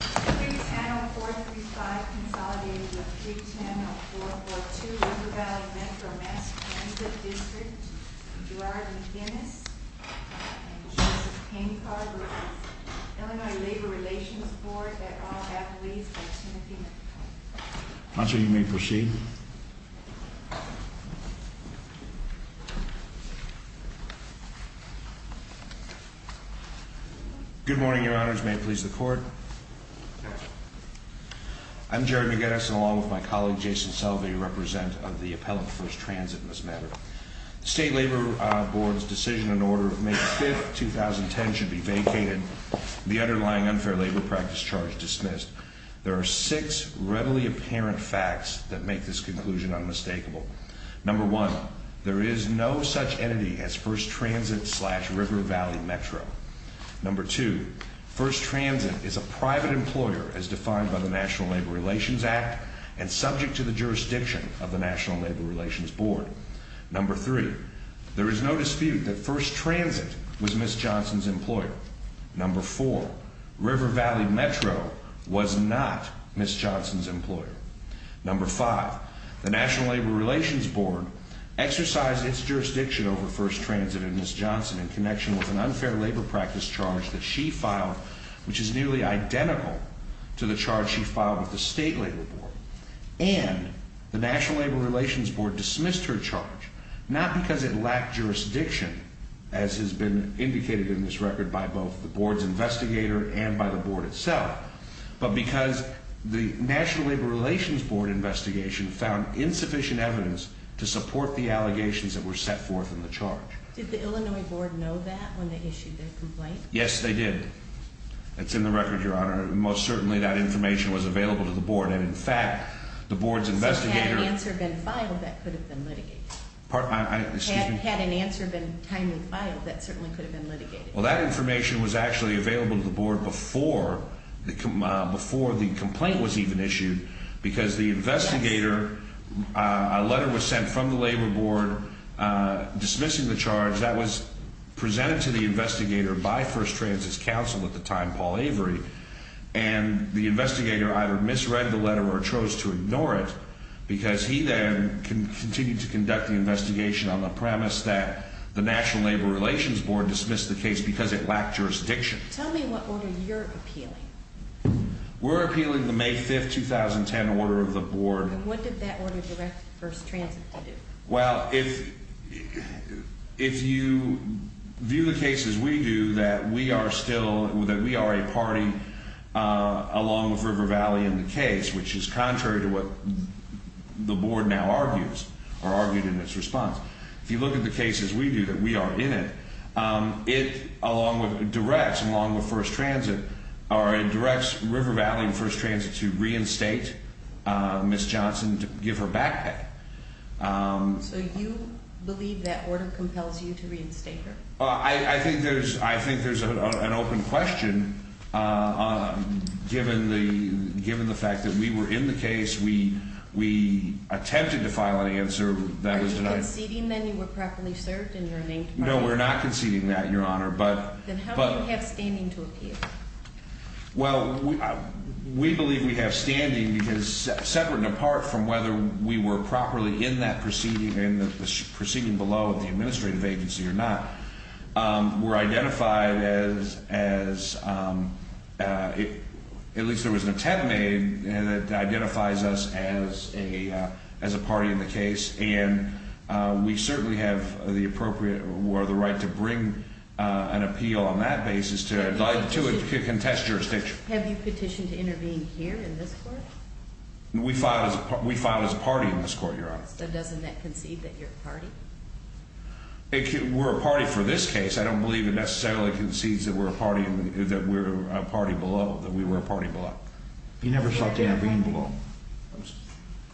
is handling 435 consolidations of 310 and 442 River Valley Metro Mass Transit District, Gerard McInnis and Jesus Paincar. Illinois Railway Relations Board 만들어 you may proceed. Good morning, Your Honor's May please. The court is adjourned. I'm Gerard McInnis along with my colleague Jason Selvey, represent of the appellant. First transit in this matter. State Labor Board's decision in order of May 5th 2010 should be vacated. The underlying unfair labor practice charge dismissed. There are six readily apparent facts that make this conclusion unmistakable. Number one, there is no such entity as first transit slash River Valley Metro. Number two, first transit is a private employer, as defined by the National Labor Relations Act and subject to the jurisdiction of the National Labor Relations Board. Number three, there is no dispute that first transit was Miss Johnson's employer. Number four, River Valley Metro was not Miss Johnson's employer. Number five, the National Labor Relations Board exercised its jurisdiction over first transit in Miss Johnson in connection with an unfair labor practice charge that she filed, which is nearly identical to the charge she filed with the state labor board. And the National Labor Relations Board dismissed her charge, not because it lacked jurisdiction, as has been indicated in this record by both the board's investigator and by the board itself, but because the National Labor Relations Board investigation found insufficient evidence to support the allegations that were set forth in the charge. Did the Illinois board know that when they issued their complaint? Yes, they did. It's in the record, Your Honor. Most certainly, that information was available to the board. And in fact, the board's investigator answer been filed that could have been litigated. Pardon? I had an answer been timely filed. That certainly could have been litigated. Well, that information was actually available to the board before the before the complaint was even issued because the investigator, a letter was sent to the investigator by first transit's counsel at the time, Paul Avery, and the investigator either misread the letter or chose to ignore it because he then can continue to conduct the investigation on the premise that the National Labor Relations Board dismissed the case because it lacked jurisdiction. Tell me what order you're appealing. We're appealing the May 5th, 2010 order of the board. What did that order direct first transit? Well, if if if you view the cases, we do that. We are still that we are a party along with River Valley in the case, which is contrary to what the board now argues or argued in its response. If you look at the cases, we do that. We are in it. Um, it along with directs along with first transit are in directs River Valley and first transit to reinstate Miss Johnson to give her backpack. Um, you believe that order compels you to reinstate her? I think there's I think there's an open question. Uh, given the given the fact that we were in the case we we attempted to file an answer that was conceding that you were properly served and learning. No, we're not conceding that your honor. But then how do you have standing to appear? Well, we believe we have standing because separate and apart from whether we were properly in that proceeding in the proceeding below the administrative agency or not, were identified as as, um, uh, at least there was an attempt made that identifies us as a as a party in the case. And we certainly have the appropriate or the right to bring on appeal on that basis to to contest jurisdiction. Have you petitioned to intervene here in this court? We filed as we filed as a party in this court. Your honor. So doesn't that concede that your party were a party for this case? I don't believe it necessarily concedes that we're a party that we're a party below that we were a party below. You never thought to intervene below.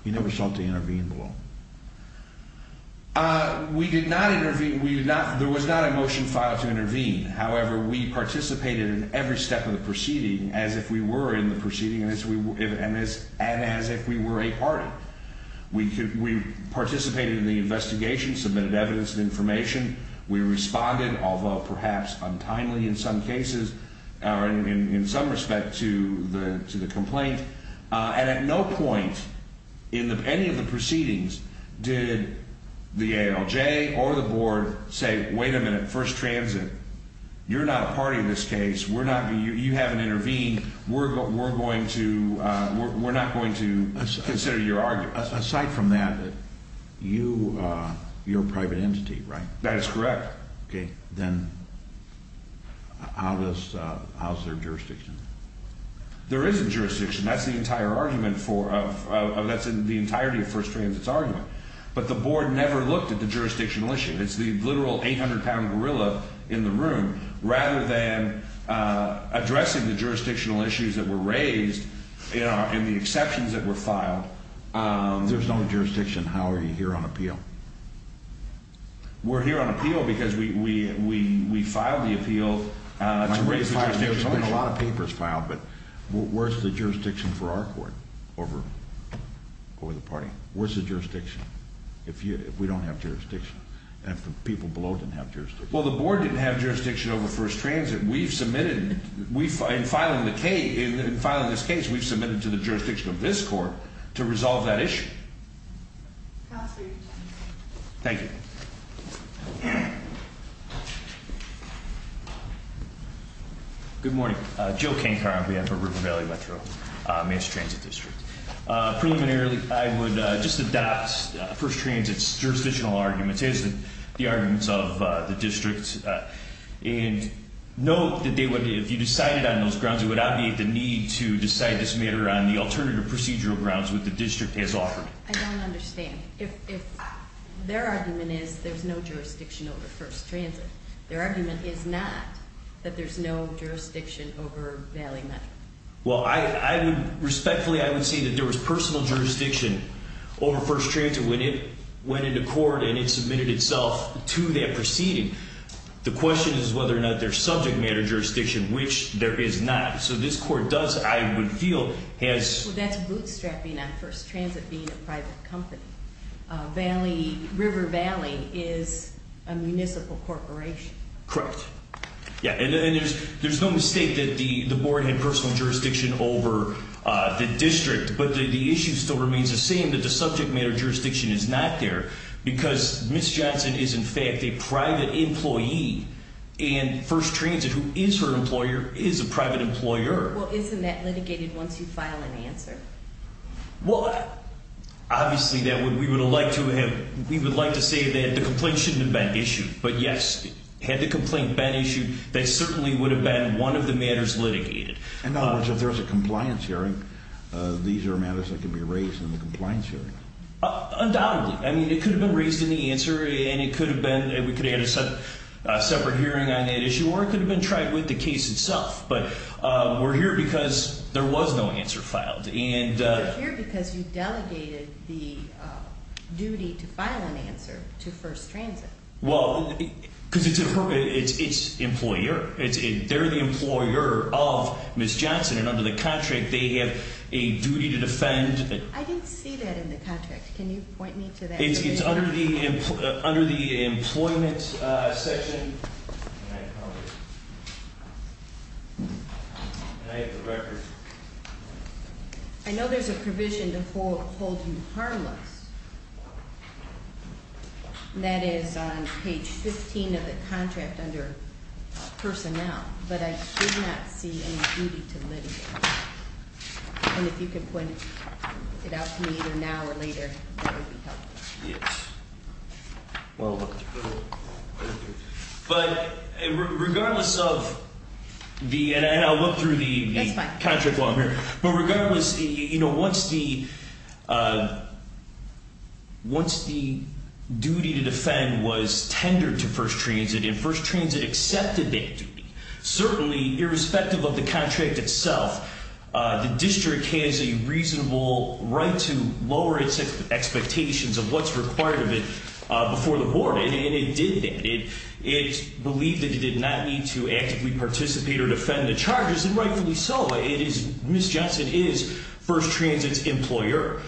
You never thought to intervene below. Uh, we did not intervene. We did not. There was not a motion filed to as if we were in the proceeding, and this and as if we were a party, we could. We participated in the investigation, submitted evidence of information. We responded, although perhaps untimely in some cases are in some respect to the to the complaint. And at no point in the any of the proceedings, did the A. L. J. Or the board say, Wait a minute. First transit. You're not a party in this case. We're not. You haven't intervened. We're going. We're going to. We're not going to consider your argument. Aside from that, you, uh, your private entity, right? That is correct. Okay, then how does how's their jurisdiction? There is a jurisdiction. That's the entire argument for of that's in the entirety of first transit's argument. But the board never looked at the room rather than, uh, addressing the jurisdictional issues that were raised in the exceptions that were filed. There's no jurisdiction. How are you here on appeal? We're here on appeal because we we filed the appeal. A lot of papers filed. But where's the jurisdiction for our court over over the party? Where's the jurisdiction? If we don't have jurisdiction, if people blow, didn't have just well, the board didn't have jurisdiction over first transit. We've submitted. We find filing the K in filing this case. We've submitted to the jurisdiction of this court to resolve that issue. Thank you. Good morning. Joe King Car. We have a river valley Metro mass transit district. Preliminarily, I would just adopt first transit's jurisdictional arguments is the arguments of the district. And note that they would. If you decided on those grounds, it would obviate the need to decide this matter on the alternative procedural grounds with the district has offered. I don't understand if their argument is there's no jurisdiction over first transit. Their argument is not that there's no jurisdiction over Valley. Well, I respectfully, I would say that there was personal jurisdiction over first transit when it went into court and it submitted itself to that proceeding. The question is whether or not their subject matter jurisdiction, which there is not. So this court does, I would feel has bootstrapping on first transit being a private company. Valley River Valley is a municipal corporation. Correct? Yeah. And there's no mistake that the board had personal jurisdiction over the district. But the issue still remains the same that the subject matter jurisdiction is not there because Miss Johnson is, in fact, a private employee and first transit who is her employer is a private employer. Well, isn't that litigated once you file an answer? Well, obviously that we would like to have. We would like to say that the complaint should have been issued. But yes, had the complaint been issued, that certainly would have been one of the matters litigated. In other words, if there's a compliance hearing, these are matters that could be raised in the compliance hearing. Undoubtedly. I mean, it could have been raised in the answer, and it could have been, we could have had a separate hearing on that issue, or it could have been tried with the case itself. But we're here because there was no answer filed. And you're here because you delegated the duty to file an answer to first transit. Well, because it's her, it's its employer. It's, they're the employer of Miss Johnson. And under the contract, they have a duty to defend. I didn't see that in the contract. Can you point me to that? It's under the, under the employment section. I know there's a provision to hold you harmless. That is on page 15 of the contract under personnel. But I did not see any duty to litigate. And if you could point it out to me either now or later, that would be helpful. Yes. But regardless of the, and I'll look through the contract while I'm here, but regardless, you know, once the, once the duty to defend was tendered to first transit and first transit accepted that duty, certainly irrespective of the contract itself, the district has a reasonable right to lower its expectations of what's required of it before the board. And it did that. It, it believed that it did not need to actively participate or defend the charges and rightfully so. It is, Miss Johnson is first transit's employer.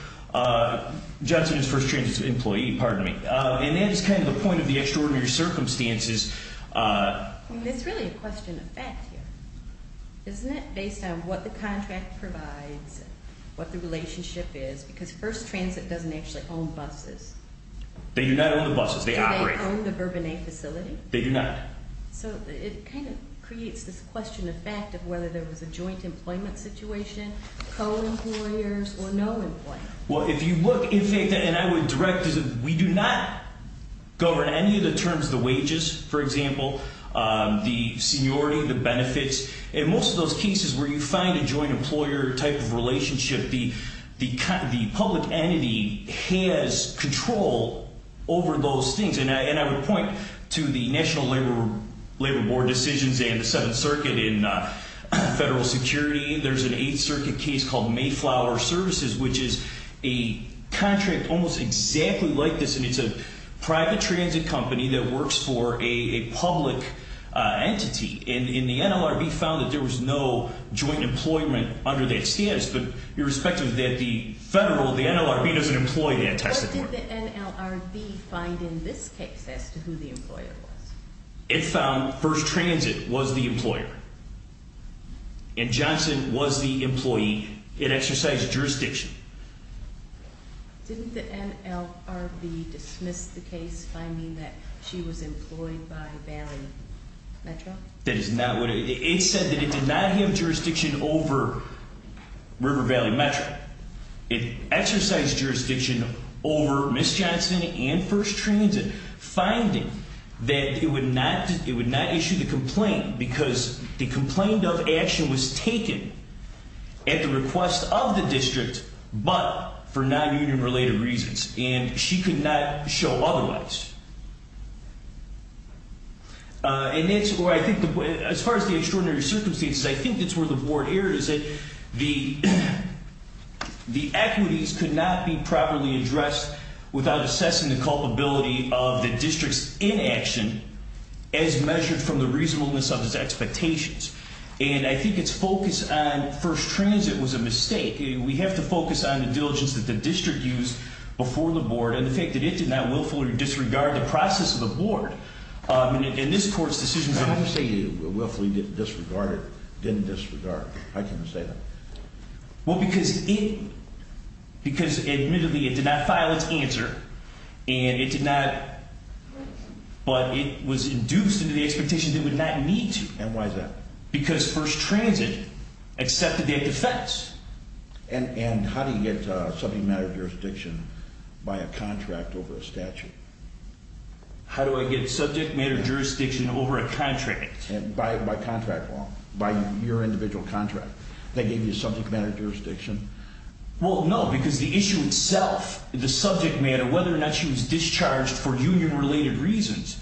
Johnson is first transit's employee, pardon me. And that is kind of the point of the extraordinary circumstances. It's really a question of fact here, isn't it? Based on what the contract provides, what the relationship is, because first transit doesn't actually own buses. They do not own the buses. They operate on the bourbon a facility. They do not. So it kind of creates this question of fact of whether there was a joint employment situation, co employers or no employment. Well, if you look in fact, and I would direct is that we do not govern any of the terms, the wages, for example, the seniority, the benefits, and most of those cases where you find a joint employer type of relationship, the, the, the public entity has control over those things. And I, and I would point to the national labor, labor board decisions and the seventh circuit in federal security. There's an eighth circuit case called Mayflower services, which is a contract almost exactly like this. And it's a private transit company that works for a public entity in the NLRB found that there was no joint employment under that status. But irrespective of that, the federal, the NLRB doesn't employ that test. Find in this case as to who the employer was, it found first transit was the employee. It exercised jurisdiction. Didn't the NLRB dismissed the case finding that she was employed by Valley Metro? That is not what it said that it did not have jurisdiction over River Valley Metro. It exercised jurisdiction over Miss Johnson and first transit finding that it would not, it would not issue the complaint because the complaint of action was taken at the request of the district, but for non-union related reasons and she could not show otherwise. And that's where I think the, as far as the extraordinary circumstances, I think that's where the board errors that the, the equities could not be properly addressed without assessing the culpability of the district's inaction as measured from the reasonableness of expectations. And I think it's focused on first transit was a mistake. We have to focus on the diligence that the district used before the board and the fact that it did not willfully disregard the process of the board in this court's decisions. How do you say you willfully disregarded, didn't disregard? How can you say that? Well, because it, because admittedly it did not file its answer and it did not, but it was induced into the expectation that would not need to. And why is that? Because first transit accepted that defense. And how do you get subject matter jurisdiction by a contract over a statute? How do I get subject matter jurisdiction over a contract? By contract law, by your individual contract. They gave you subject matter jurisdiction. Well, no, because the issue itself, the subject matter, whether or not she was discharged for union related reasons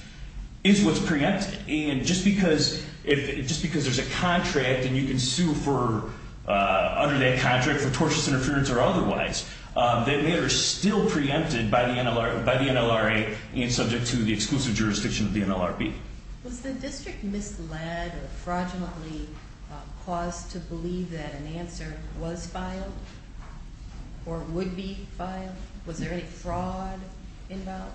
is what's preempted. And just because if just because there's a contract and you can sue for under that contract for tortious interference or otherwise, that matter is still preempted by the NLR, by the NLRA and subject to the exclusive jurisdiction of the NLRB. Was the district misled or fraudulently caused to believe that an answer was filed or would be filed? Was there any fraud involved?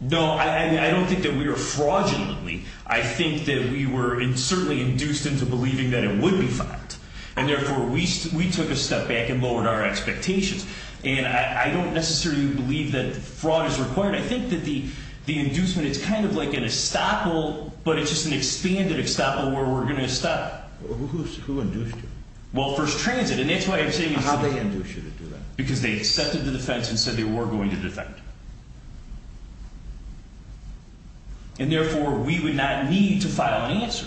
No, I don't think that we were fraudulently. I think that we were certainly induced into believing that it would be filed. And therefore we took a step back and lowered our expectations. And I don't necessarily believe that fraud is required. I think that the inducement, it's kind of like an estoppel, but it's just an expanded estoppel where we're going to stop. Who induced you? Well, First Transit. And that's why I'm saying How did they induce you to do that? Because they accepted the defense and said they were going to defend. And therefore we would not need to file an answer.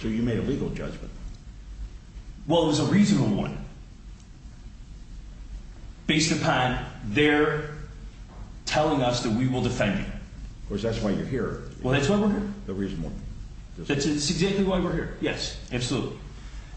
So you made a legal judgment? Well, it was a reasonable one. Based upon their telling us that we will defend you. Of course, that's why you're here. Well, that's why we're here. That's exactly why we're here. Yes, absolutely.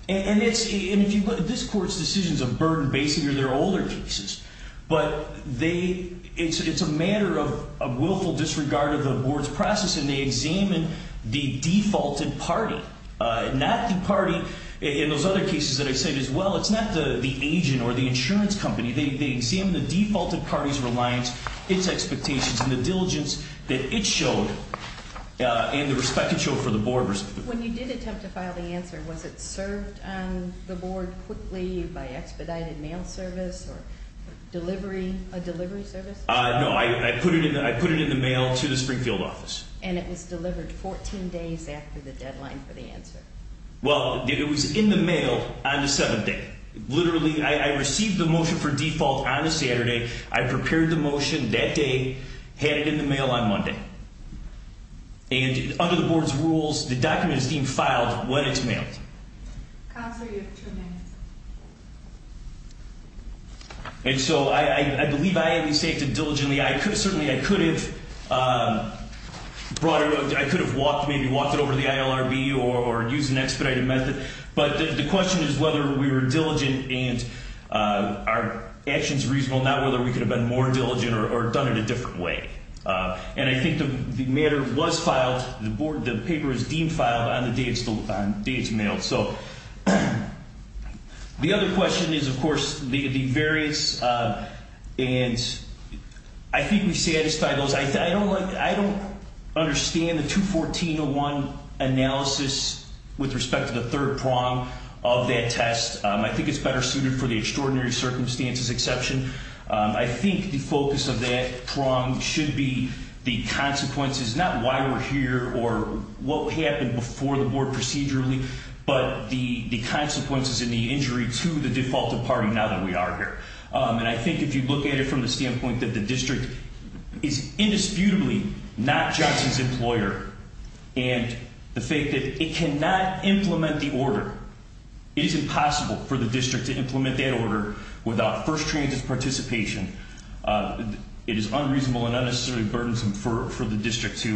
And if you look at this court's decisions of burden basing or their older cases, but it's a matter of willful disregard of the board's process and they examine the defaulted party, not the party in those other cases that I said as well. It's not the agent or the insurance company. They examine the defaulted party's reliance, its showed and the respected show for the board. When you did attempt to file the answer, was it served on the board quickly by expedited mail service or delivery? A delivery service? No, I put it in. I put it in the mail to the Springfield office and it was delivered 14 days after the deadline for the answer. Well, it was in the mail on the seventh day. Literally, I received the motion for default on a Saturday. I And under the board's rules, the document is being filed when it's mailed. Counselor, you have two minutes. And so I believe I at least acted diligently. I could certainly, I could have brought it, I could have walked, maybe walked it over to the ILRB or used an expedited method. But the question is whether we were diligent and our actions reasonable, not whether we could have been more diligent or done it a The matter was filed. The board, the paper is deemed filed on the day it's mailed. So the other question is, of course, the variance. And I think we satisfy those. I don't like, I don't understand the 214-01 analysis with respect to the third prong of that test. I think it's better suited for the extraordinary circumstances exception. I think the focus of that prong should be the consequences, not why we're here or what happened before the board procedurally, but the consequences in the injury to the default departing now that we are here. And I think if you look at it from the standpoint that the district is indisputably not Johnson's employer and the fact that it cannot implement the order, it is impossible for the district to implement that order without first transit participation. It is unreasonable and unnecessarily burdensome for the district to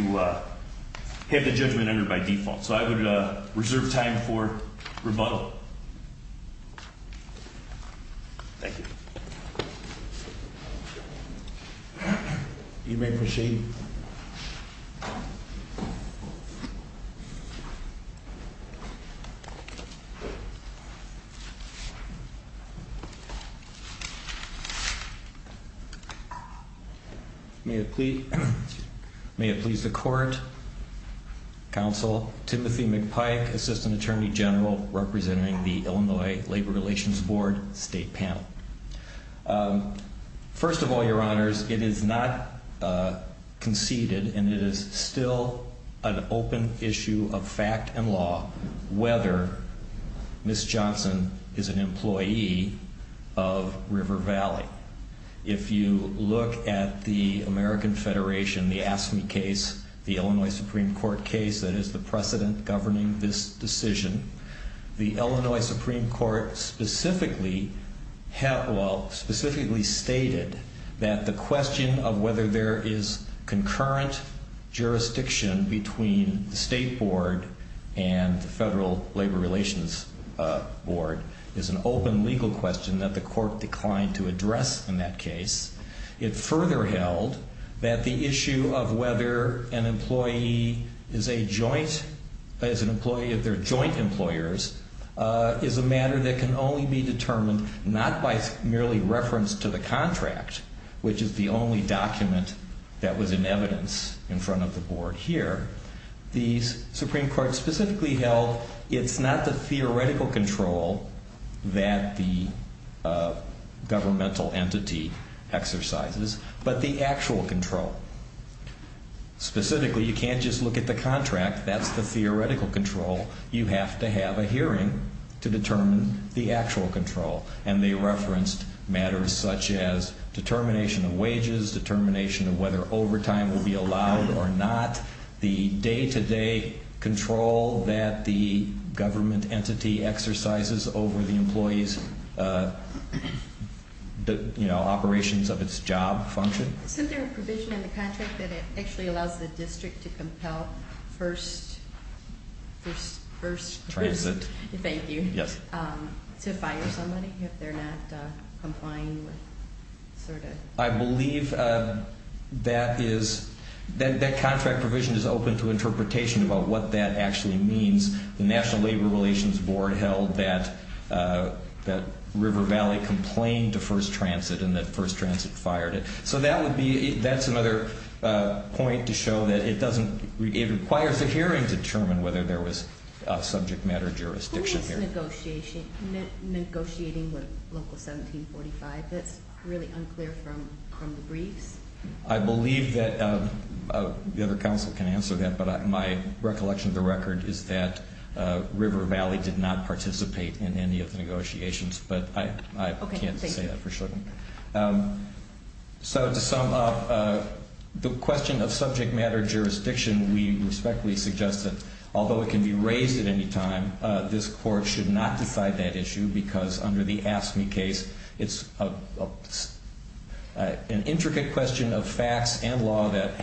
have the judgment entered by default. So I would reserve time for rebuttal. Thank you. You may proceed. May it please the court. Counsel Timothy McPike, Assistant Attorney General representing the Illinois Labor Relations Board State Panel. First of all, your honors, it is not conceded and it is still an open issue of fact and law whether Ms. Johnson is an employee of River Valley. If you look at the American Federation, the Ask Me case, the Illinois Supreme Court case that is the precedent governing this decision, the Illinois Supreme Court specifically stated that the question of whether there is concurrent jurisdiction between the State Board and the Federal Labor Relations Board is an open legal question that the court declined to address in that case. It further held that the issue of whether an employee is a joint, is an employee of their joint employers, is a matter that can only be determined not by merely reference to the contract, which is the only document that was in evidence in there. The Supreme Court specifically held it's not the theoretical control that the governmental entity exercises, but the actual control. Specifically, you can't just look at the contract. That's the theoretical control. You have to have a hearing to determine the actual control. And they referenced matters such as determination of wages, determination of whether overtime will be allowed or not, the day-to-day control that the government entity exercises over the employee's, you know, operations of its job function. Is there a provision in the contract that it actually allows the district to compel first, first transit, thank you, to fire somebody if they're not complying with, sort of? I believe that is, that contract provision is open to interpretation about what that actually means. The National Labor Relations Board held that River Valley complained to first transit and that first transit fired it. So that would be, that's another point to show that it doesn't, it requires a hearing to determine whether there was a subject matter jurisdiction here. Who is negotiating with Local 1745? That's really unclear from the other counsel can answer that, but my recollection of the record is that River Valley did not participate in any of the negotiations, but I can't say that for sure. So to sum up, the question of subject matter jurisdiction, we respectfully suggest that although it can be raised at any time, this court should not decide that issue because under the AFSCME case, it's an intricate question of facts and law that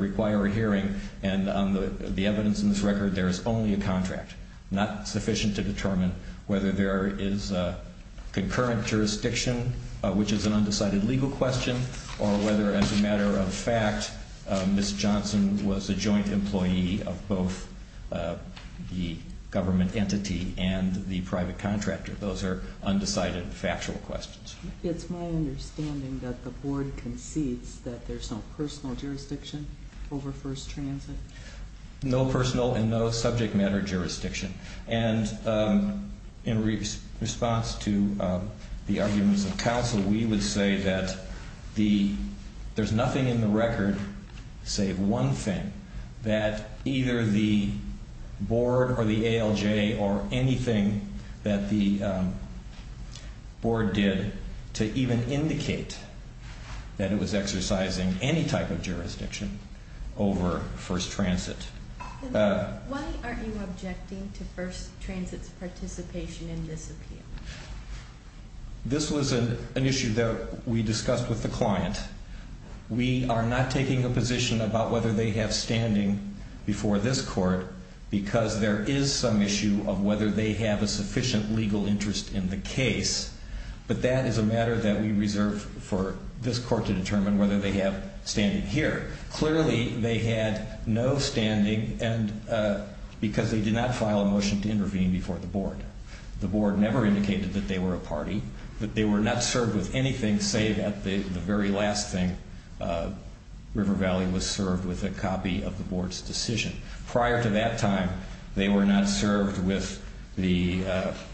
require a hearing, and on the evidence in this record, there is only a contract. Not sufficient to determine whether there is a concurrent jurisdiction, which is an undecided legal question, or whether as a matter of fact, Ms. Johnson was a joint employee of both the government entity and the private contractor. Those are undecided factual questions. It's my understanding that the board concedes that there's no personal jurisdiction over First Transit? No personal and no subject matter jurisdiction, and in response to the arguments of counsel, we would say that there's nothing in the record, save one thing, that either the board or the ALJ or anything that the board did to even indicate that it was exercising any type of jurisdiction over First Transit. Why aren't you objecting to First Transit's participation in this appeal? This was an issue that we discussed with the client. We are not taking a position about whether they have standing before this court because there is some issue of whether they have a sufficient legal interest in the case, but that is a matter that we reserve for this court to determine whether they have standing here. Clearly, they had no standing because they did not file a motion to intervene before the board. The board never indicated that they were a party, that they were not served with anything, save that the very last thing, River Valley was served with a copy of the board's decision. Prior to that time, they were not served with the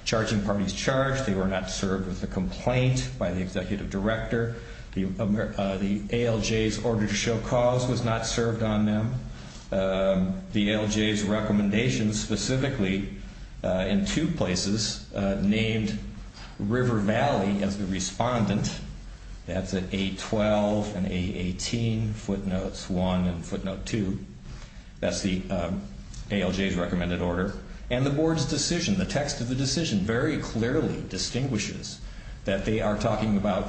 charging parties charged. They were not served with a complaint by the executive director. The ALJ's order to show cause was not served on them. The ALJ's recommendations, specifically in two places, named River Valley as the respondent. That's at A12 and A18, footnotes 1 and footnote 2. That's the ALJ's recommended order. And the board's decision, the text of the decision, very clearly distinguishes that they are talking about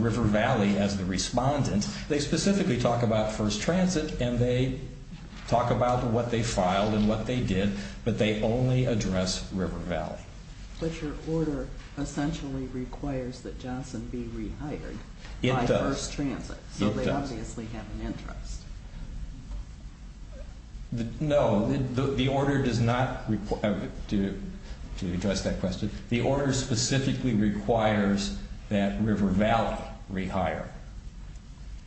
River Valley as the respondent. They specifically talk about First Transit and they talk about what they filed and what they did, but they only address River Valley. But your first transit, so they obviously have an interest. No, the order does not require, to address that question, the order specifically requires that River Valley rehire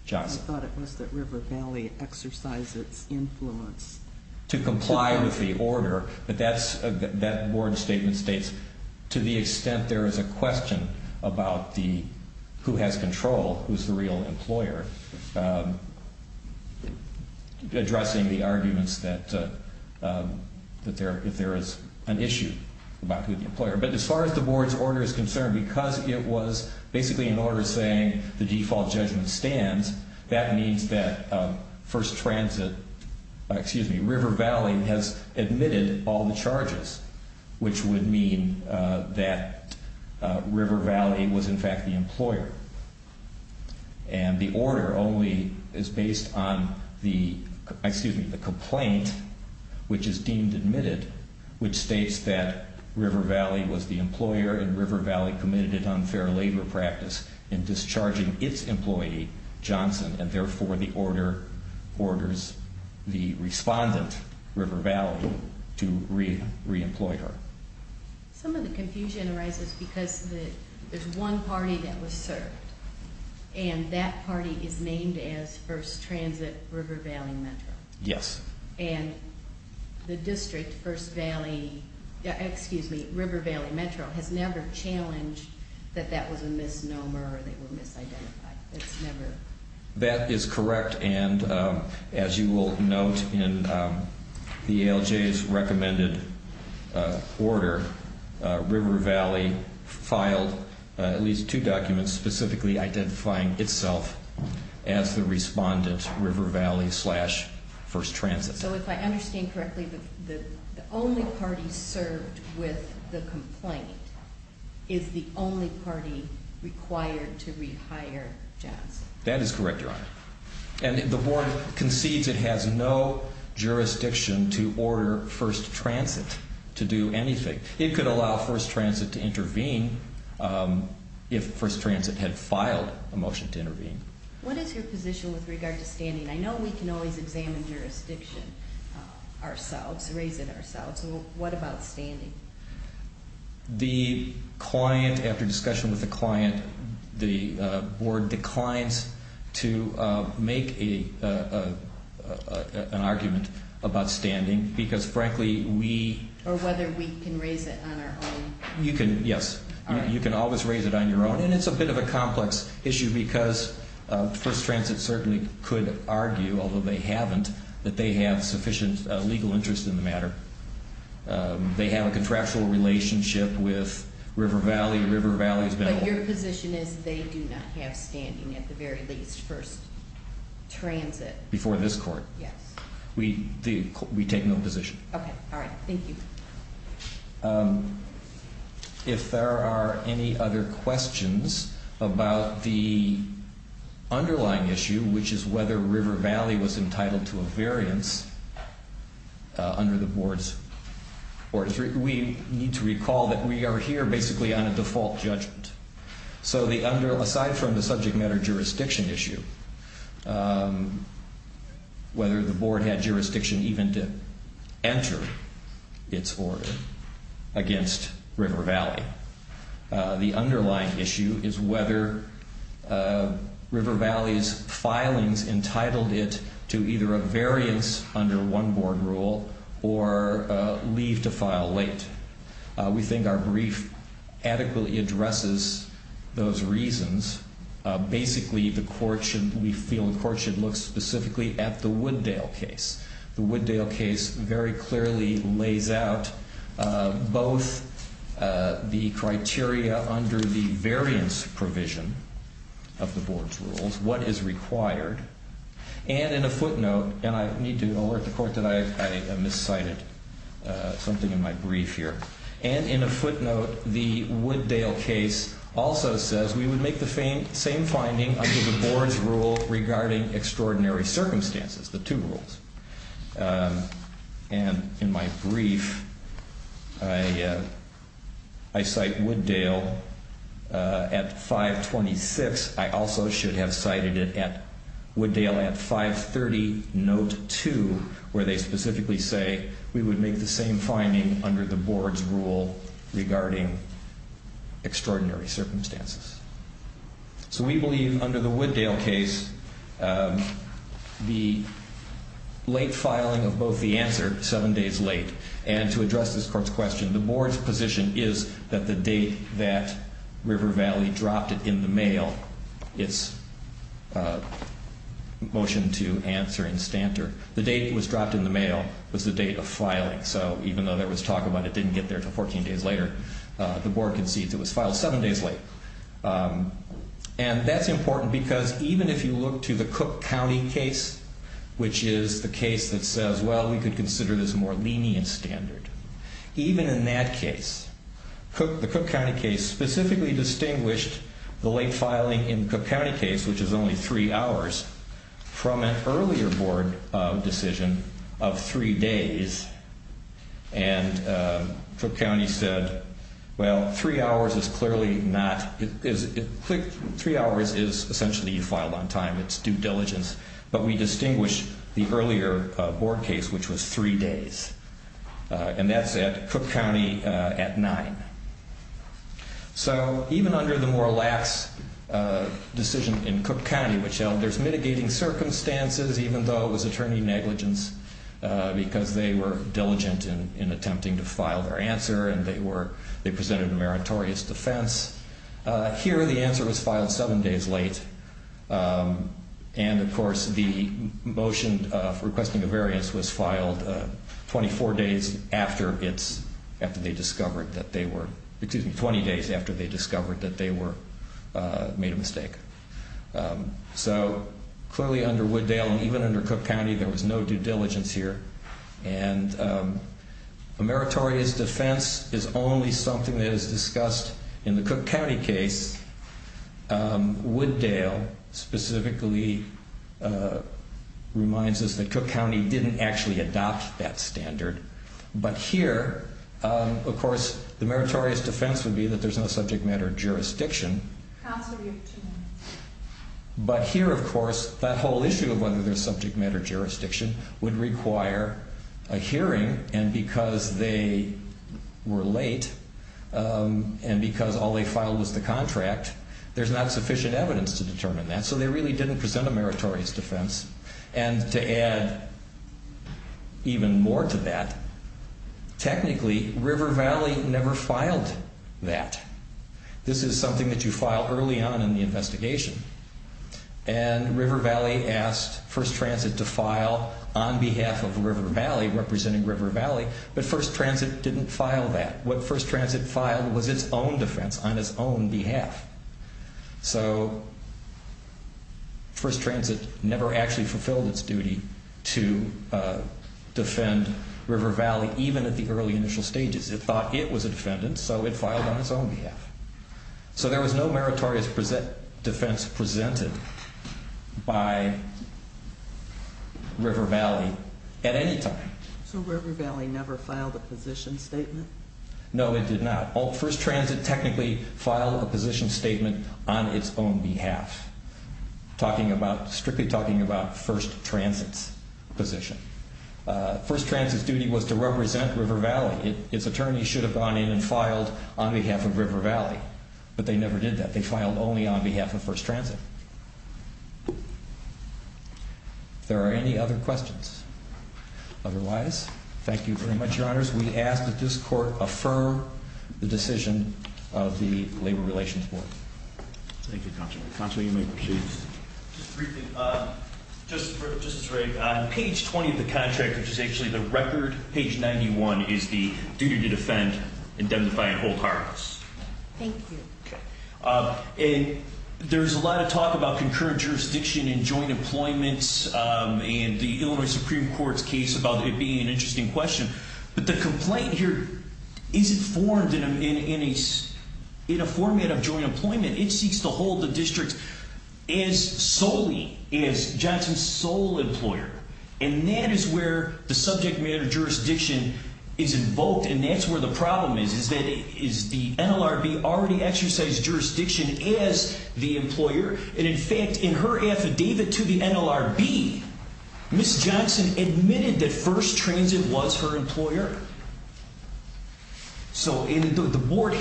Johnson. I thought it was that River Valley exercised its influence. To comply with the order, but that board statement states to the board, who's the real employer, addressing the arguments that if there is an issue about who the employer, but as far as the board's order is concerned, because it was basically an order saying the default judgment stands, that means that First Transit, excuse me, River Valley has admitted all the charges, which would mean that River Valley was in fact the employer. And the order only is based on the, excuse me, the complaint, which is deemed admitted, which states that River Valley was the employer and River Valley committed an unfair labor practice in discharging its employee, Johnson, and therefore the order orders the respondent, River Valley, to re-employ her. Some of the confusion arises because there's one party that was served, and that party is named as First Transit, River Valley Metro. Yes. And the district, First Valley, excuse me, River Valley Metro, has never challenged that that was a misnomer or they were misidentified. That's never... That is correct. And as you will note in the ALJ's recommended order, River Valley filed at least two documents specifically identifying itself as the respondent, River Valley slash First Transit. So if I understand correctly, the only party served with the complaint is the only party required to rehire Johnson. That is correct, Your Honor. And the board concedes it has no jurisdiction to order First Transit to do anything. It could allow First Transit to intervene if First Transit had filed a motion to intervene. What is your position with regard to standing? I know we can always examine jurisdiction ourselves, raise it ourselves. What about standing? The client, after discussion with the client, the board declines to make an argument about standing because, frankly, we... Or whether we can raise it on our own. You can, yes. You can always raise it on your own. And it's a bit of a complex issue because First Transit certainly could argue, although they haven't, that they have sufficient legal interest in the matter. They have a contractual relationship with River Valley. River Valley has been... But your position is they do not have standing, at the very least, First Transit. Before this court? Yes. We take no position. Okay. All right. Thank you. If there are any other questions about the underlying issue, which is whether River Valley was entitled to a variance under the board's orders, we need to recall that we are here basically on a default judgment. So aside from the subject matter jurisdiction issue, whether the board had jurisdiction even to enter its order against River Valley, the underlying issue is whether River Valley's filings entitled it to either a variance under one board rule or leave to file late. We think our brief adequately addresses those reasons. Basically, the court should... We feel the court should look specifically at the Wooddale case. The Wooddale case very clearly lays out both the criteria under the variance provision of the board's rules, what is required, and in a footnote, and I need to alert the court that I miscited something in my brief here. And in a footnote, the Wooddale case also says we would make the same finding under the board's rule regarding extraordinary circumstances, the two rules. And in my brief, I cite Wooddale at 526. I also should have cited it at Wooddale at 530, note 2, where they specifically say we would make the same finding under the board's rule regarding extraordinary circumstances. So we believe under the Wooddale case, the late filing of both the answer, seven days late, and to address this court's question, the board's position is that the date that River Valley dropped it in the mail, its motion to answer in Stanter, the date was the date of filing. So even though there was talk about it didn't get there till 14 days later, the board concedes it was filed seven days late. And that's important because even if you look to the Cook County case, which is the case that says, well, we could consider this more lenient standard, even in that case, the Cook County case specifically distinguished the late filing in Cook County case, which is only three hours from an earlier board decision of three days. And Cook County said, well, three hours is clearly not, three hours is essentially you filed on time, it's due diligence. But we distinguish the earlier board case, which was three days. And that's at Cook County at nine. So even under the more lax decision in Cook County, which held there's mitigating circumstances, even though it was attorney negligence, because they were diligent in attempting to file their answer, and they were, they presented a meritorious defense. Here, the answer was filed seven days late. And of course, the motion for requesting a variance was filed 24 days after it's, after they discovered that they were, excuse me, 20 days after they made a mistake. So clearly under Wooddale, and even under Cook County, there was no due diligence here. And a meritorious defense is only something that is discussed in the Cook County case. Wooddale specifically reminds us that Cook County didn't actually adopt that standard. But here, of course, the meritorious defense would be that there's no subject matter jurisdiction. But here, of course, that whole issue of whether there's subject matter jurisdiction would require a hearing. And because they were late, and because all they filed was the contract, there's not sufficient evidence to determine that. So they really didn't present a meritorious defense. And to add even more to that, technically, River Valley never filed that. This is something that you file early on in the investigation. And River Valley asked First Transit to file on behalf of River Valley, representing River Valley. But First Transit didn't file that. What First Transit filed was its own defense on its own behalf. So First Transit never actually fulfilled its duty to defend River Valley, even at the early initial stages. It thought it was a defendant, so it filed on its own behalf. So there was no meritorious defense presented by River Valley at any time. So River Valley never filed a position statement? No, it did not. First Transit technically filed a position statement on its own behalf, strictly talking about First Transit's position. First Transit filed on behalf of River Valley. Its attorneys should have gone in and filed on behalf of River Valley, but they never did that. They filed only on behalf of First Transit. There are any other questions? Otherwise, thank you very much, Your Honors. We ask that this Court affirm the decision of the Labor Relations Board. Thank you, Counselor. Counselor, you may proceed. Just briefly, Justice Rake, on page 20 of the statute, what is the duty to defend, indemnify, and hold harmless? Thank you. There's a lot of talk about concurrent jurisdiction in joint employment and the Illinois Supreme Court's case about it being an interesting question, but the complaint here isn't formed in a format of joint employment. It seeks to hold the district as solely as Johnson's sole employer, and that is where the subject matter of the complaint is invoked, and that's where the problem is, is that is the NLRB already exercised jurisdiction as the employer? And in fact, in her affidavit to the NLRB, Ms. Johnson admitted that First Transit was her employer. So the Board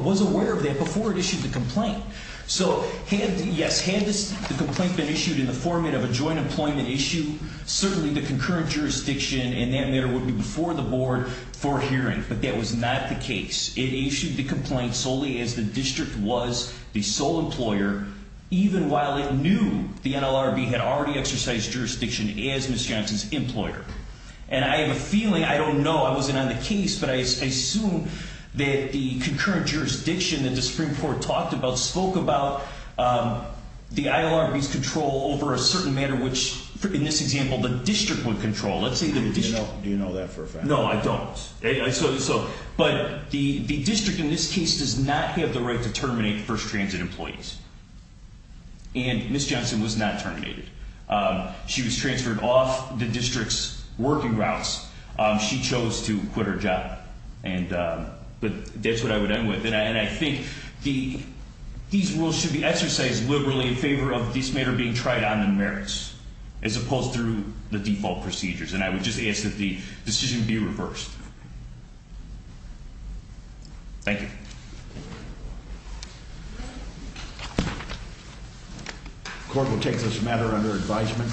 was aware of that before it issued the complaint. So, yes, had the complaint been issued in the format of a joint employment issue, certainly the concurrent jurisdiction in that matter would be before the Board for hearing, but that was not the case. It issued the complaint solely as the district was the sole employer, even while it knew the NLRB had already exercised jurisdiction as Ms. Johnson's employer. And I have a feeling, I don't know, I wasn't on the case, but I assume that the concurrent jurisdiction that the Supreme Court talked about spoke about the NLRB's control over a certain matter which, in this example, the district does not have the right to terminate First Transit employees. And Ms. Johnson was not terminated. She was transferred off the district's working routes. She chose to quit her job. But that's what I would end with. And I think these rules should be exercised liberally in favor of this matter being tried on the merits, as opposed to the default procedures. And I would just ask that the decision be reversed. Thank you. Court will take this matter under advisement.